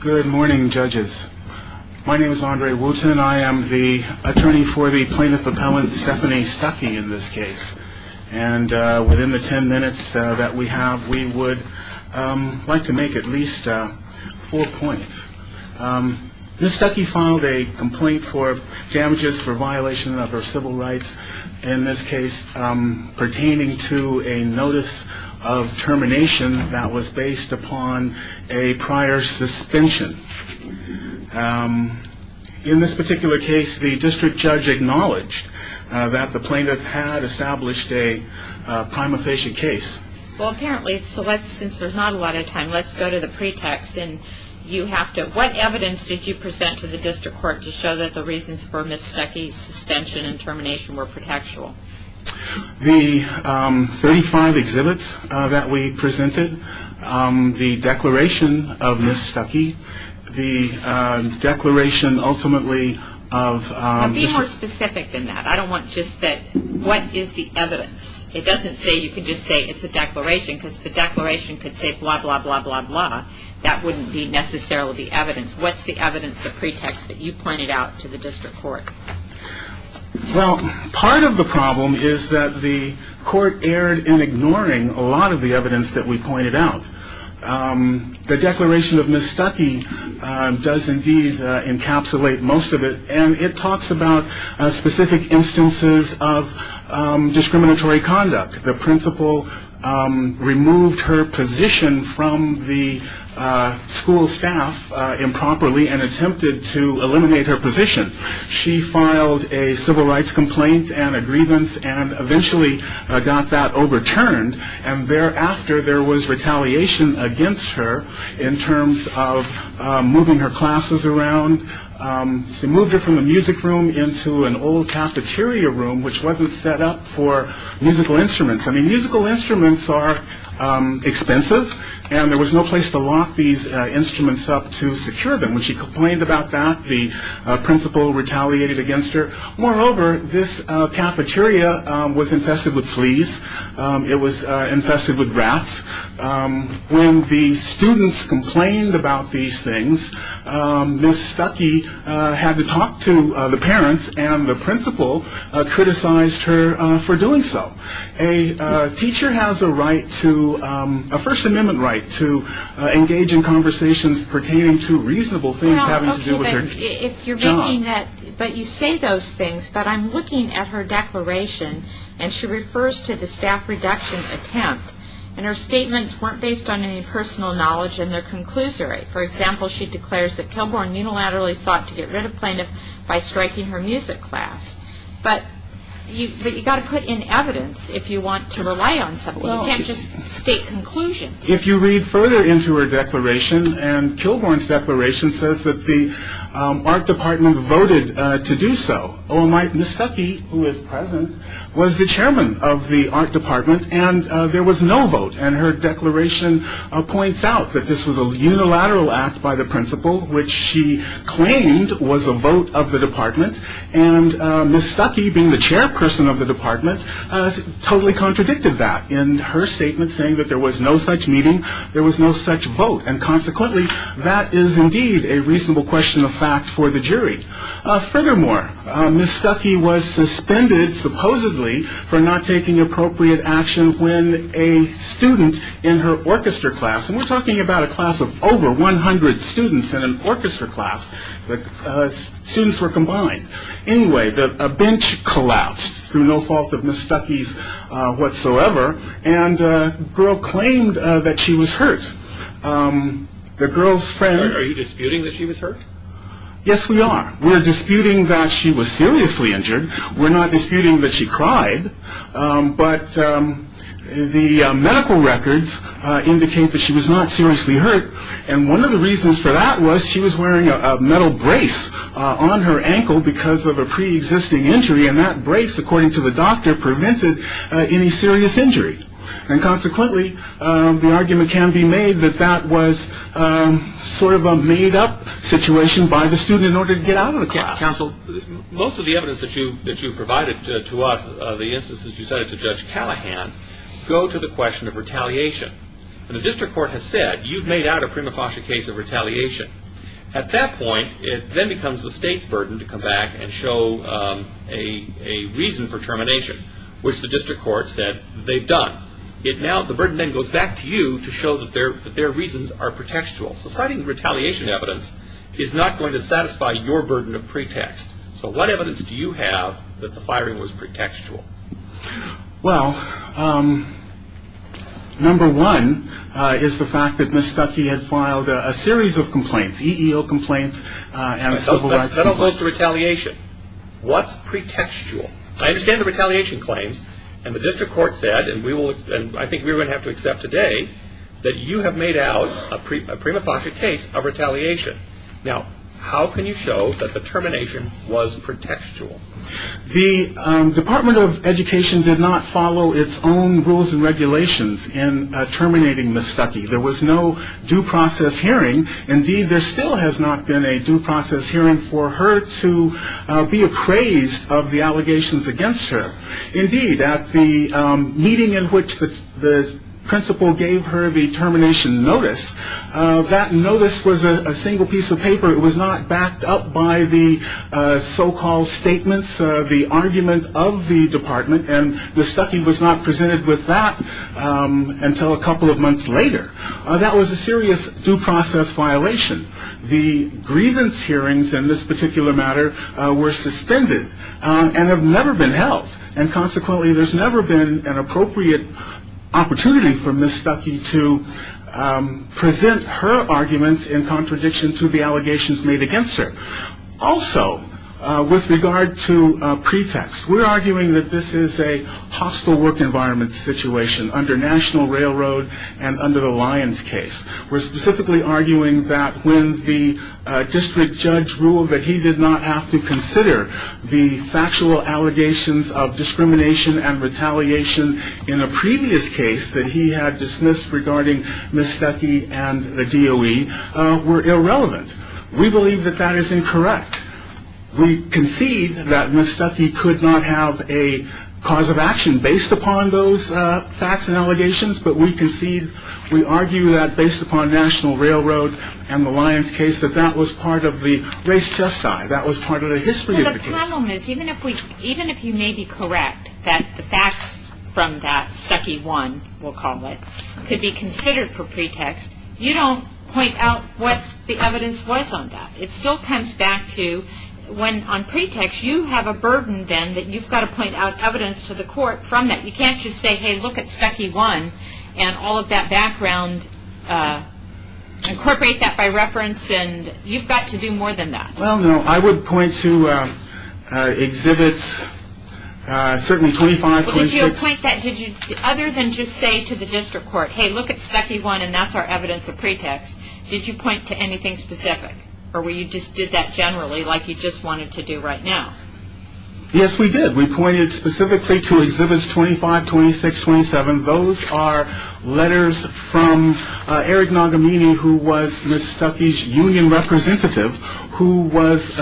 Good morning judges. My name is Andre Wooten and I am the attorney for the plaintiff appellant Stephanie Stucky in this case and within the 10 minutes that we have we would like to make at least four points. This Stucky filed a complaint for damages for violation of her civil rights in this case pertaining to a notice of termination that was based upon a prior suspension. In this particular case the district judge acknowledged that the plaintiff had established a prima facie case. Well apparently since there is not a lot of time let's go to the pretext. What evidence did you present to the district court to show that the reasons for Ms. Stucky's suspension and termination were pretextual? The 35 exhibits that we presented, the declaration of Ms. Stucky, the declaration ultimately of... Be more specific than that. I don't want just that what is the evidence? It doesn't say you can just say it's a declaration because the declaration could say blah blah blah blah blah that wouldn't be necessarily the evidence. What's the evidence of pretext that you pointed out to the district court? Well part of the problem is that the court erred in ignoring a lot of the evidence that we pointed out. The declaration of Ms. Stucky does indeed encapsulate most of it and it talks about specific instances of discriminatory conduct. The principal removed her position from the school staff improperly and attempted to eliminate her position. She filed a civil rights complaint and a grievance and eventually got that overturned and thereafter there was retaliation against her in terms of moving her classes around. She moved her from a music room into an old cafeteria room which wasn't set up for musical instruments. I mean musical instruments are expensive and there was no place to lock these instruments up to secure them. When she complained about that the principal retaliated against her. Moreover this cafeteria was infested with fleas. It was infested with rats. When the students complained about these things Ms. Stucky had to talk to the parents and the principal criticized her for doing so. A teacher has a right to a first amendment right to engage in conversations pertaining to reasonable things having to do with her job. But you say those things but I'm looking at her declaration and she refers to the staff reduction attempt and her statements weren't based on any personal knowledge in their conclusory. For example she declares that Kilborne unilaterally sought to get rid of plaintiff by striking her music class. But you've got to put in evidence if you want to conclusion. If you read further into her declaration and Kilborne's declaration says that the art department voted to do so. Oh my Ms. Stucky who is present was the chairman of the art department and there was no vote and her declaration points out that this was a unilateral act by the principal which she claimed was a vote of the department and Ms. Stucky being the chairperson of the was no such meeting there was no such vote and consequently that is indeed a reasonable question of fact for the jury. Furthermore Ms. Stucky was suspended supposedly for not taking appropriate action when a student in her orchestra class and we're talking about a class of over 100 students in an orchestra class but students were combined. Anyway a bench collapsed through no fault of Ms. Stucky's claim that she was hurt. The girl's friends. Are you disputing that she was hurt? Yes we are. We're disputing that she was seriously injured. We're not disputing that she cried but the medical records indicate that she was not seriously hurt and one of the reasons for that was she was wearing a metal brace on her ankle because of a pre-existing injury and that brace according to the doctor prevented any serious injury and consequently the argument can be made that that was sort of a made-up situation by the student in order to get out of the class. Counsel most of the evidence that you that you provided to us the instances you cited to Judge Callahan go to the question of retaliation and the district court has said you've made out a prima facie case of retaliation. At that point it then becomes the state's burden to come back and show a reason for termination which the district court said they've done. The burden then goes back to you to show that their reasons are pretextual. So citing the retaliation evidence is not going to satisfy your burden of pretext. So what evidence do you have that the firing was pretextual? Well number one is the fact that Ms. Stucky had filed a series of complaints EEO complaints and civil rights complaints. That all goes to retaliation. What's pretextual? I understand the retaliation claims and the district court said and we will and I think we're going to have to accept today that you have made out a prima facie case of retaliation. Now how can you show that the termination was pretextual? The Department of Education did not follow its own rules and regulations in terminating Ms. Stucky. There was no due process hearing. Indeed there still has not been a due process hearing for her to be appraised of the allegations against her. Indeed at the meeting in which the principal gave her the termination notice, that notice was a single piece of paper. It was not backed up by the so-called statements, the argument of the department and Ms. Stucky was not presented with that until a couple of months later. That was a serious due process violation. The grievance hearings in this particular matter were suspended and have never been held and consequently there's never been an appropriate opportunity for Ms. Stucky to present her arguments in contradiction to the allegations made against her. Also with regard to pretext, we're arguing that this is a hostile work environment situation under National Railroad and under the Lyons case. We're specifically arguing that when the district judge ruled that he did not have to consider the factual allegations of discrimination and retaliation in a previous case that he had dismissed regarding Ms. Stucky and the DOE were irrelevant. We believe that that is incorrect. We concede that Ms. Stucky could not have a cause of action based upon those facts and allegations, but we concede, we argue that based upon National Railroad and the Lyons case that that was part of the race just die, that was part of the history of the case. Well the problem is even if you may be correct that the facts from that Stucky 1, we'll call it, could be considered for pretext, you don't point out what the evidence was on that. It still comes back to when on pretext you have a burden then that you've got to point out evidence to the court from that. You can't just say, hey look at Stucky 1 and all of that background, incorporate that by reference and you've got to do more than that. Well no, I would point to exhibits, certainly 25, 26. But did you point that, other than just say to the district court, hey look at Stucky 1 and that's our evidence of pretext, did you point to anything specific or were you just did that generally like you just wanted to do right now? Yes we did. We pointed specifically to exhibits 25, 26, 27. Those are letters from Eric Nagamini who was Ms. Stucky's union representative who was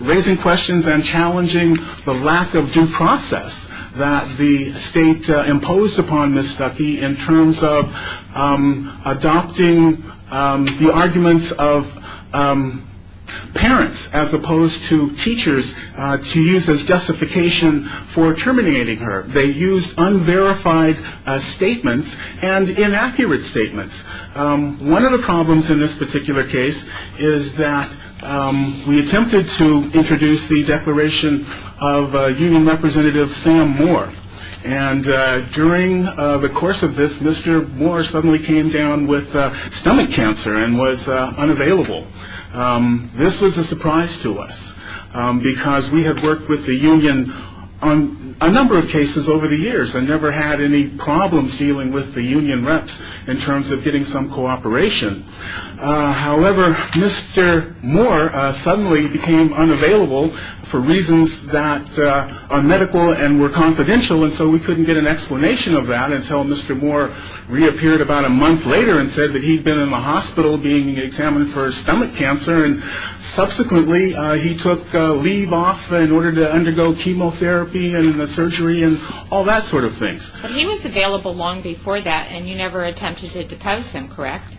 raising questions and challenging the lack of due process that the state imposed upon Ms. Stucky in terms of adopting the arguments of parents as opposed to teachers to use as justification for terminating her. They used unverified statements and inaccurate statements. One of the problems in this particular case is that we attempted to introduce the declaration of union representative Sam Moore and during the course of this Mr. Moore suddenly came down with because we had worked with the union on a number of cases over the years and never had any problems dealing with the union reps in terms of getting some cooperation. However, Mr. Moore suddenly became unavailable for reasons that are medical and were confidential and so we couldn't get an explanation of that until Mr. Moore reappeared about a month later and said that he'd been in the hospital being examined for stomach cancer and subsequently he took leave off in order to undergo chemotherapy and surgery and all that sort of things. But he was available long before that and you never attempted to depose him, correct?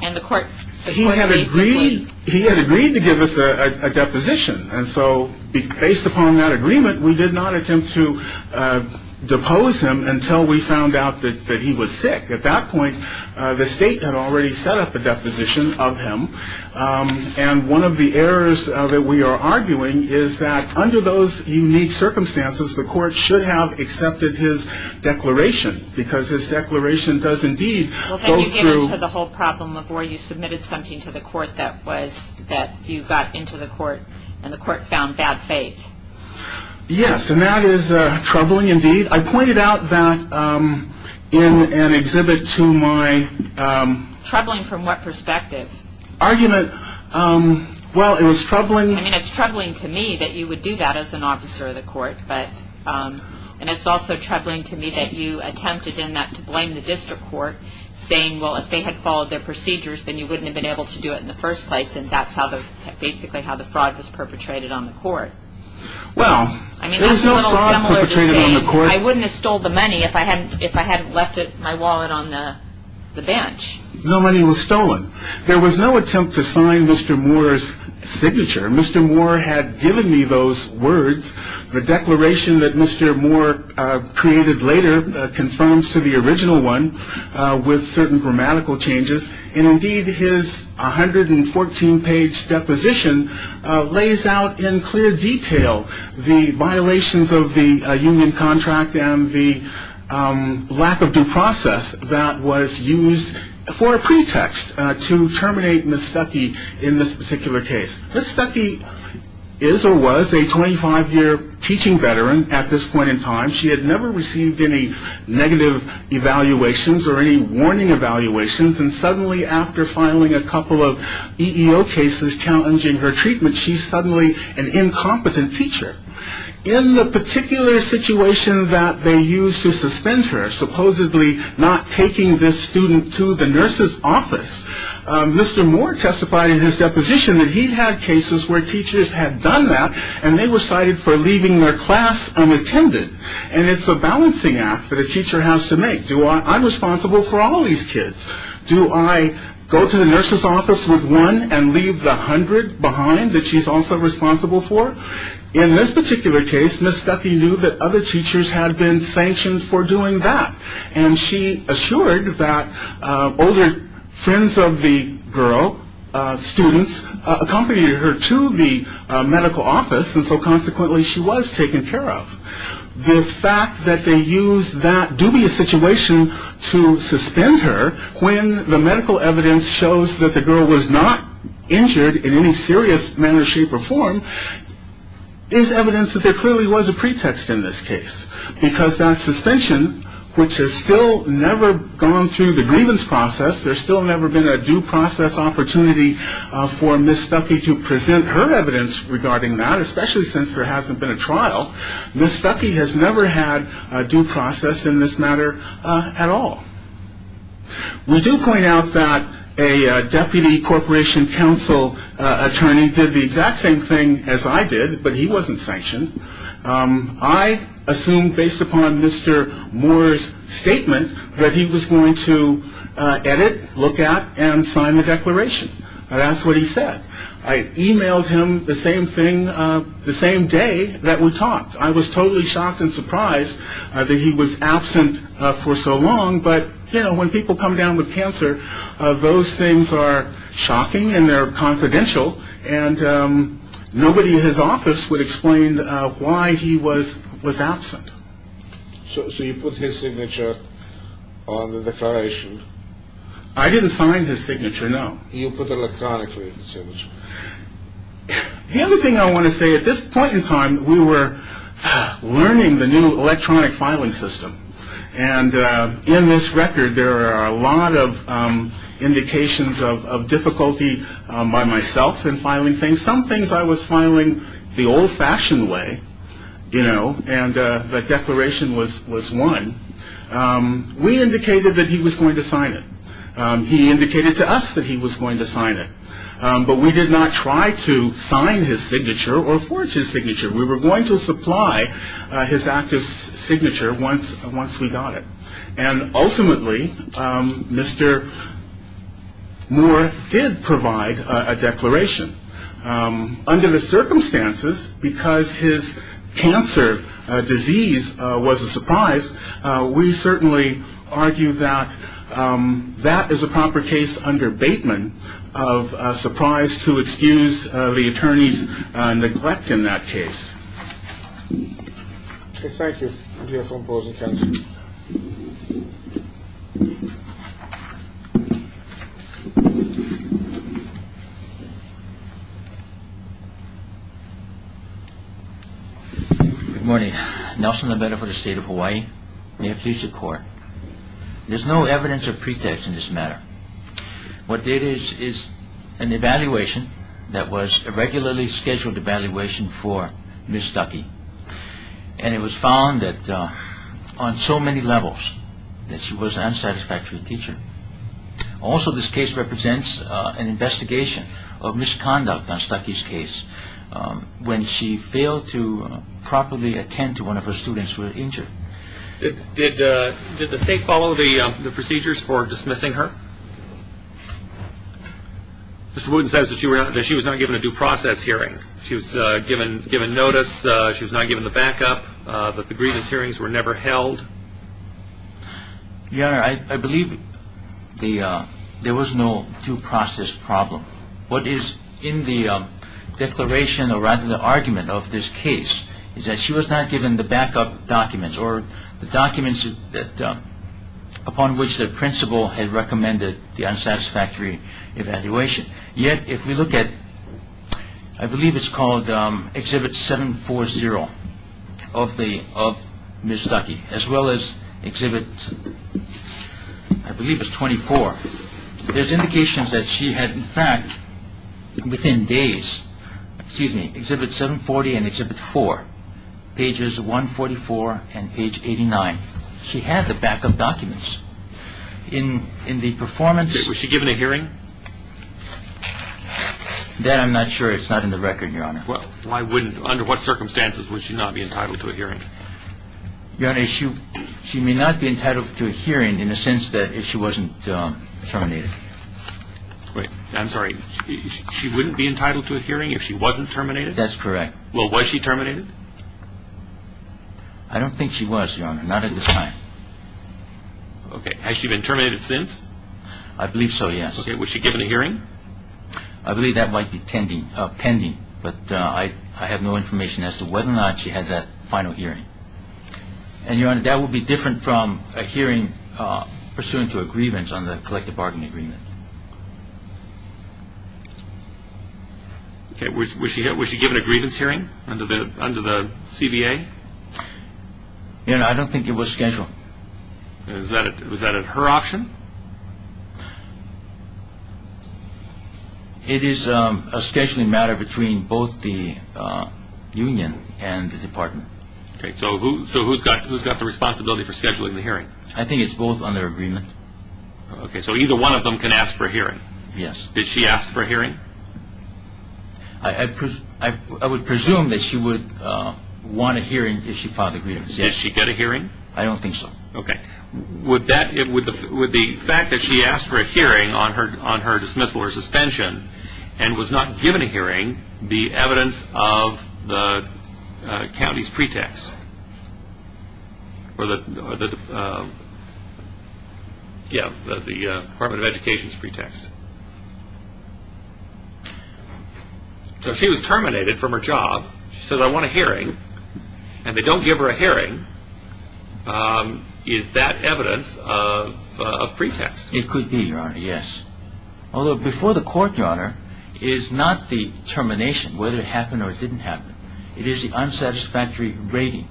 He had agreed to give us a deposition and so based upon that agreement we did not attempt to depose him until we found out that he was sick. At that point the state had already set up a deposition of him and one of the errors that we are arguing is that under those unique circumstances the court should have accepted his declaration because his declaration does indeed go through Well can you get into the whole problem of where you submitted something to the court that was that you got into the court and the court found bad faith? Yes and that is troubling indeed. I pointed out that in an exhibit to my Troubling from what perspective? Argument, well it was troubling I mean it's troubling to me that you would do that as an officer of the court and it's also troubling to me that you attempted in that to blame the district court saying well if they had followed their procedures then you wouldn't have been able to do it in the first place and that's basically how the fraud was perpetrated on the court. Well there was no fraud perpetrated on the court I wouldn't have stolen the money if I hadn't left my wallet on the bench No money was stolen. There was no attempt to sign Mr. Moore's signature. Mr. Moore had given me those words. The declaration that Mr. Moore created later confirms to the original one with certain grammatical changes and indeed his 114 page deposition lays out in clear detail the violations of the union contract and the lack of due process that was used for a pretext to terminate Ms. Stuckey in this particular case. Ms. Stuckey is or was a 25 year teaching veteran at this point in time. She had never received any negative evaluations or any warning evaluations and suddenly after filing a couple of EEO cases challenging her treatment she's suddenly an incompetent teacher. In the particular situation that they used to suspend her, supposedly not taking this student to the nurse's office, Mr. Moore testified in his deposition that he had cases where teachers had done that and they were cited for leaving their class unattended and it's a balancing act that a teacher has to make. I'm responsible for all these kids. Do I go to the nurse's office with one and leave the hundred behind that she's also responsible for? In this particular case Ms. Stuckey knew that other teachers had been sanctioned for doing that and she assured that older friends of the girl, students, accompanied her to the medical office and so consequently she was taken care of. The fact that they used that dubious situation to suspend her when the medical evidence shows that the girl was not injured in any serious manner, shape or form is evidence that there clearly was a pretext in this case because that suspension, which has still never gone through the grievance process, there's still never been a due process opportunity for Ms. Stuckey to present her evidence regarding that, especially since there hasn't been a trial, Ms. Stuckey has never had a due process in this matter at all. We do point out that a deputy corporation counsel attorney did the exact same thing as I did, but he wasn't sanctioned. I assumed based upon Mr. Moore's statement that he was going to edit, look at and sign the declaration. That's what he said. I emailed him the same thing the same day that we talked. I was totally shocked and surprised that he was absent for so long, but you know, when people come down with cancer, those things are confidential and nobody in his office would explain why he was absent. So you put his signature on the declaration? I didn't sign his signature, no. You put electronically the signature? The other thing I want to say, at this point in time, we were learning the new electronic filing system and in this by myself in filing things. Some things I was filing the old-fashioned way, you know, and the declaration was won. We indicated that he was going to sign it. He indicated to us that he was going to sign it, but we did not try to sign his signature or forge his signature. We were going to supply his active declaration. Under the circumstances, because his cancer disease was a surprise, we certainly argue that that is a proper case under Bateman of a surprise to excuse the attorney's neglect in that case. Thank you for imposing cancer. Good morning. Nelson Labetta for the state of Hawaii. May it please the court. There's no evidence of pretext in this matter. What there is is an irregularly scheduled evaluation for Ms. Stuckey and it was found on so many levels that she was an unsatisfactory teacher. Also, this case represents an investigation of misconduct on Stuckey's case when she failed to properly attend to one of her students who were injured. Did the state follow the hearing? She was given notice. She was not given the backup. The grievance hearings were never held. Your Honor, I believe there was no due process problem. What is in the declaration or rather the argument of this case is that she was not given the backup documents or the documents upon which the principal had recommended the unsatisfactory evaluation. Yet, if we look at, I believe it's called Exhibit 740 of Ms. Stuckey as well as Exhibit, I believe it's 24. There's indications that she had in fact within days, excuse me, Exhibit 740 and given a hearing? That I'm not sure. It's not in the record, Your Honor. Why wouldn't, under what circumstances would she not be entitled to a hearing? Your Honor, she may not be entitled to a hearing in the sense that if she wasn't terminated. Wait, I'm sorry. She wouldn't be entitled to a hearing if she wasn't terminated? That's correct. Well, was she terminated? I don't think she was, Your Honor. Not at this time. Okay. Has she been terminated since? I believe so, yes. Okay. Was she given a hearing? I believe that might be pending, but I have no information as to whether or not she had that final hearing. And, Your Honor, that would be different from a hearing pursuant to a grievance on the collective bargaining agreement. Okay. Was she given a grievance hearing under the CBA? Your Honor, I don't think it was scheduled. Was that her option? It is a scheduling matter between both the union and the department. Okay. So who's got the responsibility for scheduling the hearing? I think it's both under agreement. Okay. So either one of them can ask for a hearing? Yes. Did she ask for a hearing? I would presume that she would want a hearing if she filed a grievance, yes. Did she get a hearing? I don't think so. Okay. Would the fact that she asked for a hearing on her dismissal or suspension and was not given a hearing be evidence of the county's pretext? Yeah, the Department of Education's pretext? So if she was terminated from her job, she says, I want a hearing, and they don't give her a hearing, is that evidence of pretext? It could be, Your Honor, yes. Although before the court, Your Honor, is not the termination, whether it happened or it didn't happen. It is the unsatisfactory rating.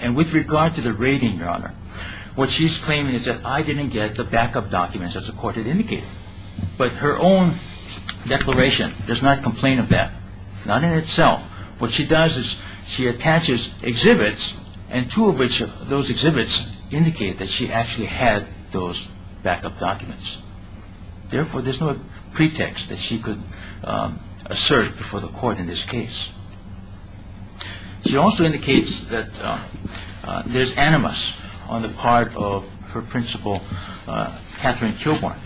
And with regard to the rating, Your Honor, what she's claiming is that I didn't get the backup documents that the court had indicated. But her own declaration does not complain of that, not in itself. What she does is she attaches exhibits, and two of those exhibits indicate that she actually had those backup documents. Therefore, there's no pretext that she could assert before the court in this case. She also indicates that there's animus on the part of her principal, Katherine Kilborn.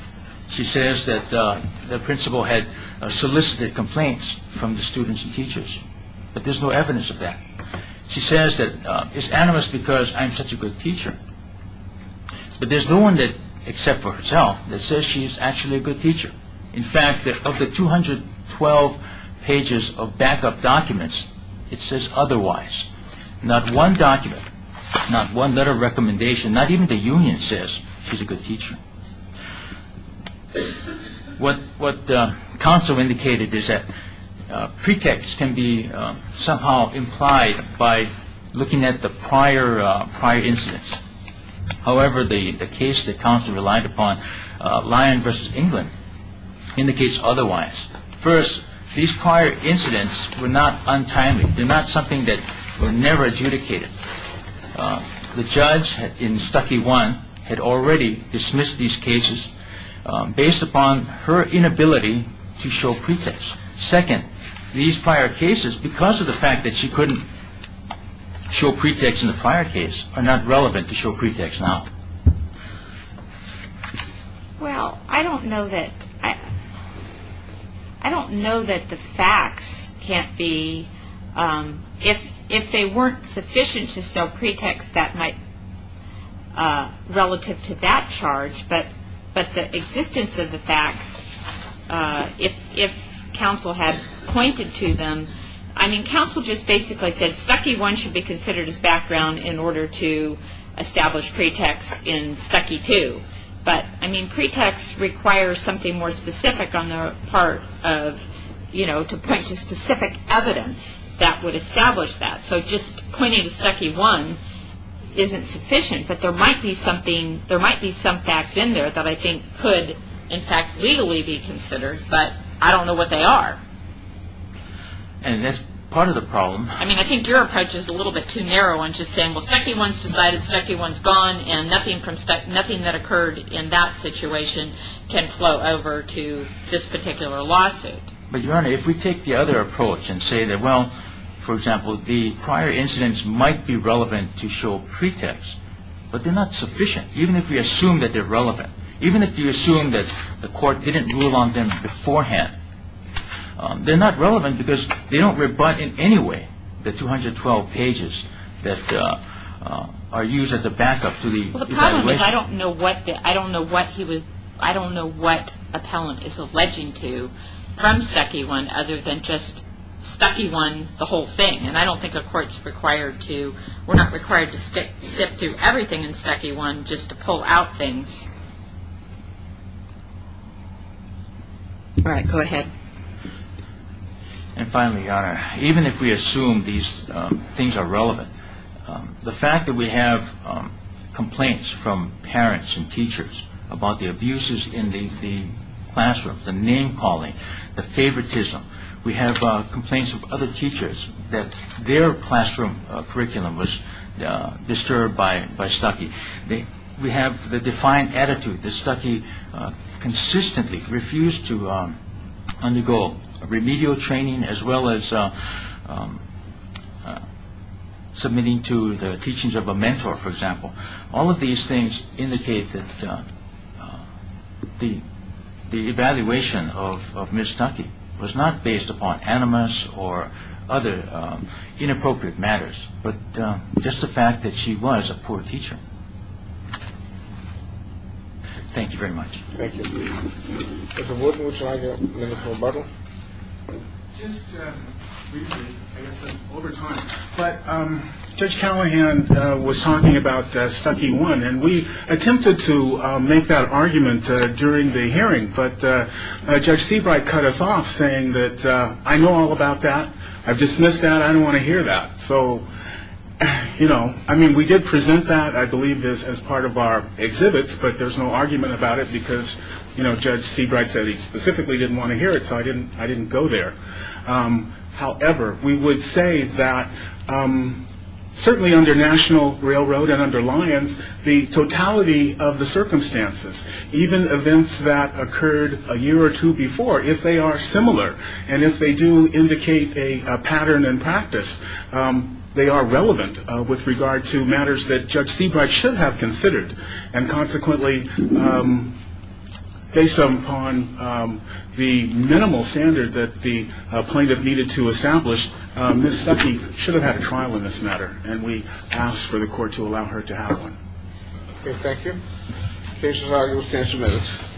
She says that the principal had solicited complaints from the students and teachers, but there's no evidence of that. She says that it's animus because I'm such a good teacher, but there's no one except for herself that says she's actually a good teacher. In fact, of the 212 pages of backup documents, it says otherwise. Not one document, not one letter of recommendation, not even the union says she's a good teacher. What counsel indicated is that pretext can be somehow implied by looking at the prior incidents. However, the case that counsel relied upon, Lyon v. England, indicates otherwise. First, these prior incidents were not untimely. They're not something that were never adjudicated. The judge in Stucky 1 had already dismissed these cases based upon her inability to show pretext. Second, these prior cases, because of the fact that she couldn't show pretext in the prior case, are not relevant to show pretext now. Well, I don't know that the facts can't be, if they weren't sufficient to show pretext relative to that charge, but the existence of the facts, if counsel had pointed to them, I mean, counsel just basically said Stucky 1 should be considered as background in order to establish pretext in Stucky 2. But, I mean, pretext requires something more specific on the part of, you know, to point to specific evidence that would establish that. So just pointing to Stucky 1 isn't sufficient, but there might be some facts in there that I think could, in fact, legally be considered, but I don't know what they are. And that's part of the problem. I mean, I think your approach is a little bit too narrow in just saying, well, Stucky 1's decided, Stucky 1's gone, and nothing that occurred in that situation can flow over to this particular lawsuit. But, Your Honor, if we take the other approach and say that, well, for example, the prior incidents might be relevant to show pretext, but they're not sufficient, even if we assume that they're relevant. Even if you assume that the court didn't rule on them beforehand, they're not relevant because they don't rebut in any way the 212 pages that are used as a backup to the evaluation. Well, the problem is I don't know what he was – I don't know what appellant is alleging to from Stucky 1 other than just Stucky 1 the whole thing, and I don't think a court's required to – we're not required to sift through everything in Stucky 1 just to pull out things. All right, go ahead. And finally, Your Honor, even if we assume these things are relevant, the fact that we have complaints from parents and teachers about the abuses in the classroom, the name-calling, the favoritism, we have complaints of other teachers that their classroom curriculum was disturbed by Stucky. We have the defiant attitude that Stucky consistently refused to undergo remedial training as well as submitting to the teachings of a mentor, for example. All of these things indicate that the evaluation of Ms. Stucky was not based upon animus or other inappropriate matters but just the fact that she was a poor teacher. Thank you very much. Thank you. Mr. Wood, would you like to make a rebuttal? Just briefly, I guess over time, but Judge Callahan was talking about Stucky 1, and we attempted to make that argument during the hearing, but Judge Seabright cut us off saying that I know all about that, I've dismissed that, I don't want to hear that. So, you know, I mean, we did present that, I believe, as part of our exhibits, but there's no argument about it because, you know, Judge Seabright said he specifically didn't want to hear it, so I didn't go there. However, we would say that certainly under National Railroad and under Lyons, the totality of the circumstances, even events that occurred a year or two before, if they are similar and if they do indicate a pattern in practice, they are relevant with regard to matters that Judge Seabright should have considered, and consequently, based upon the minimal standard that the plaintiff needed to establish, Ms. Stucky should have had a trial in this matter, and we asked for the court to allow her to have one. Okay, thank you. Case is argued with 10 minutes.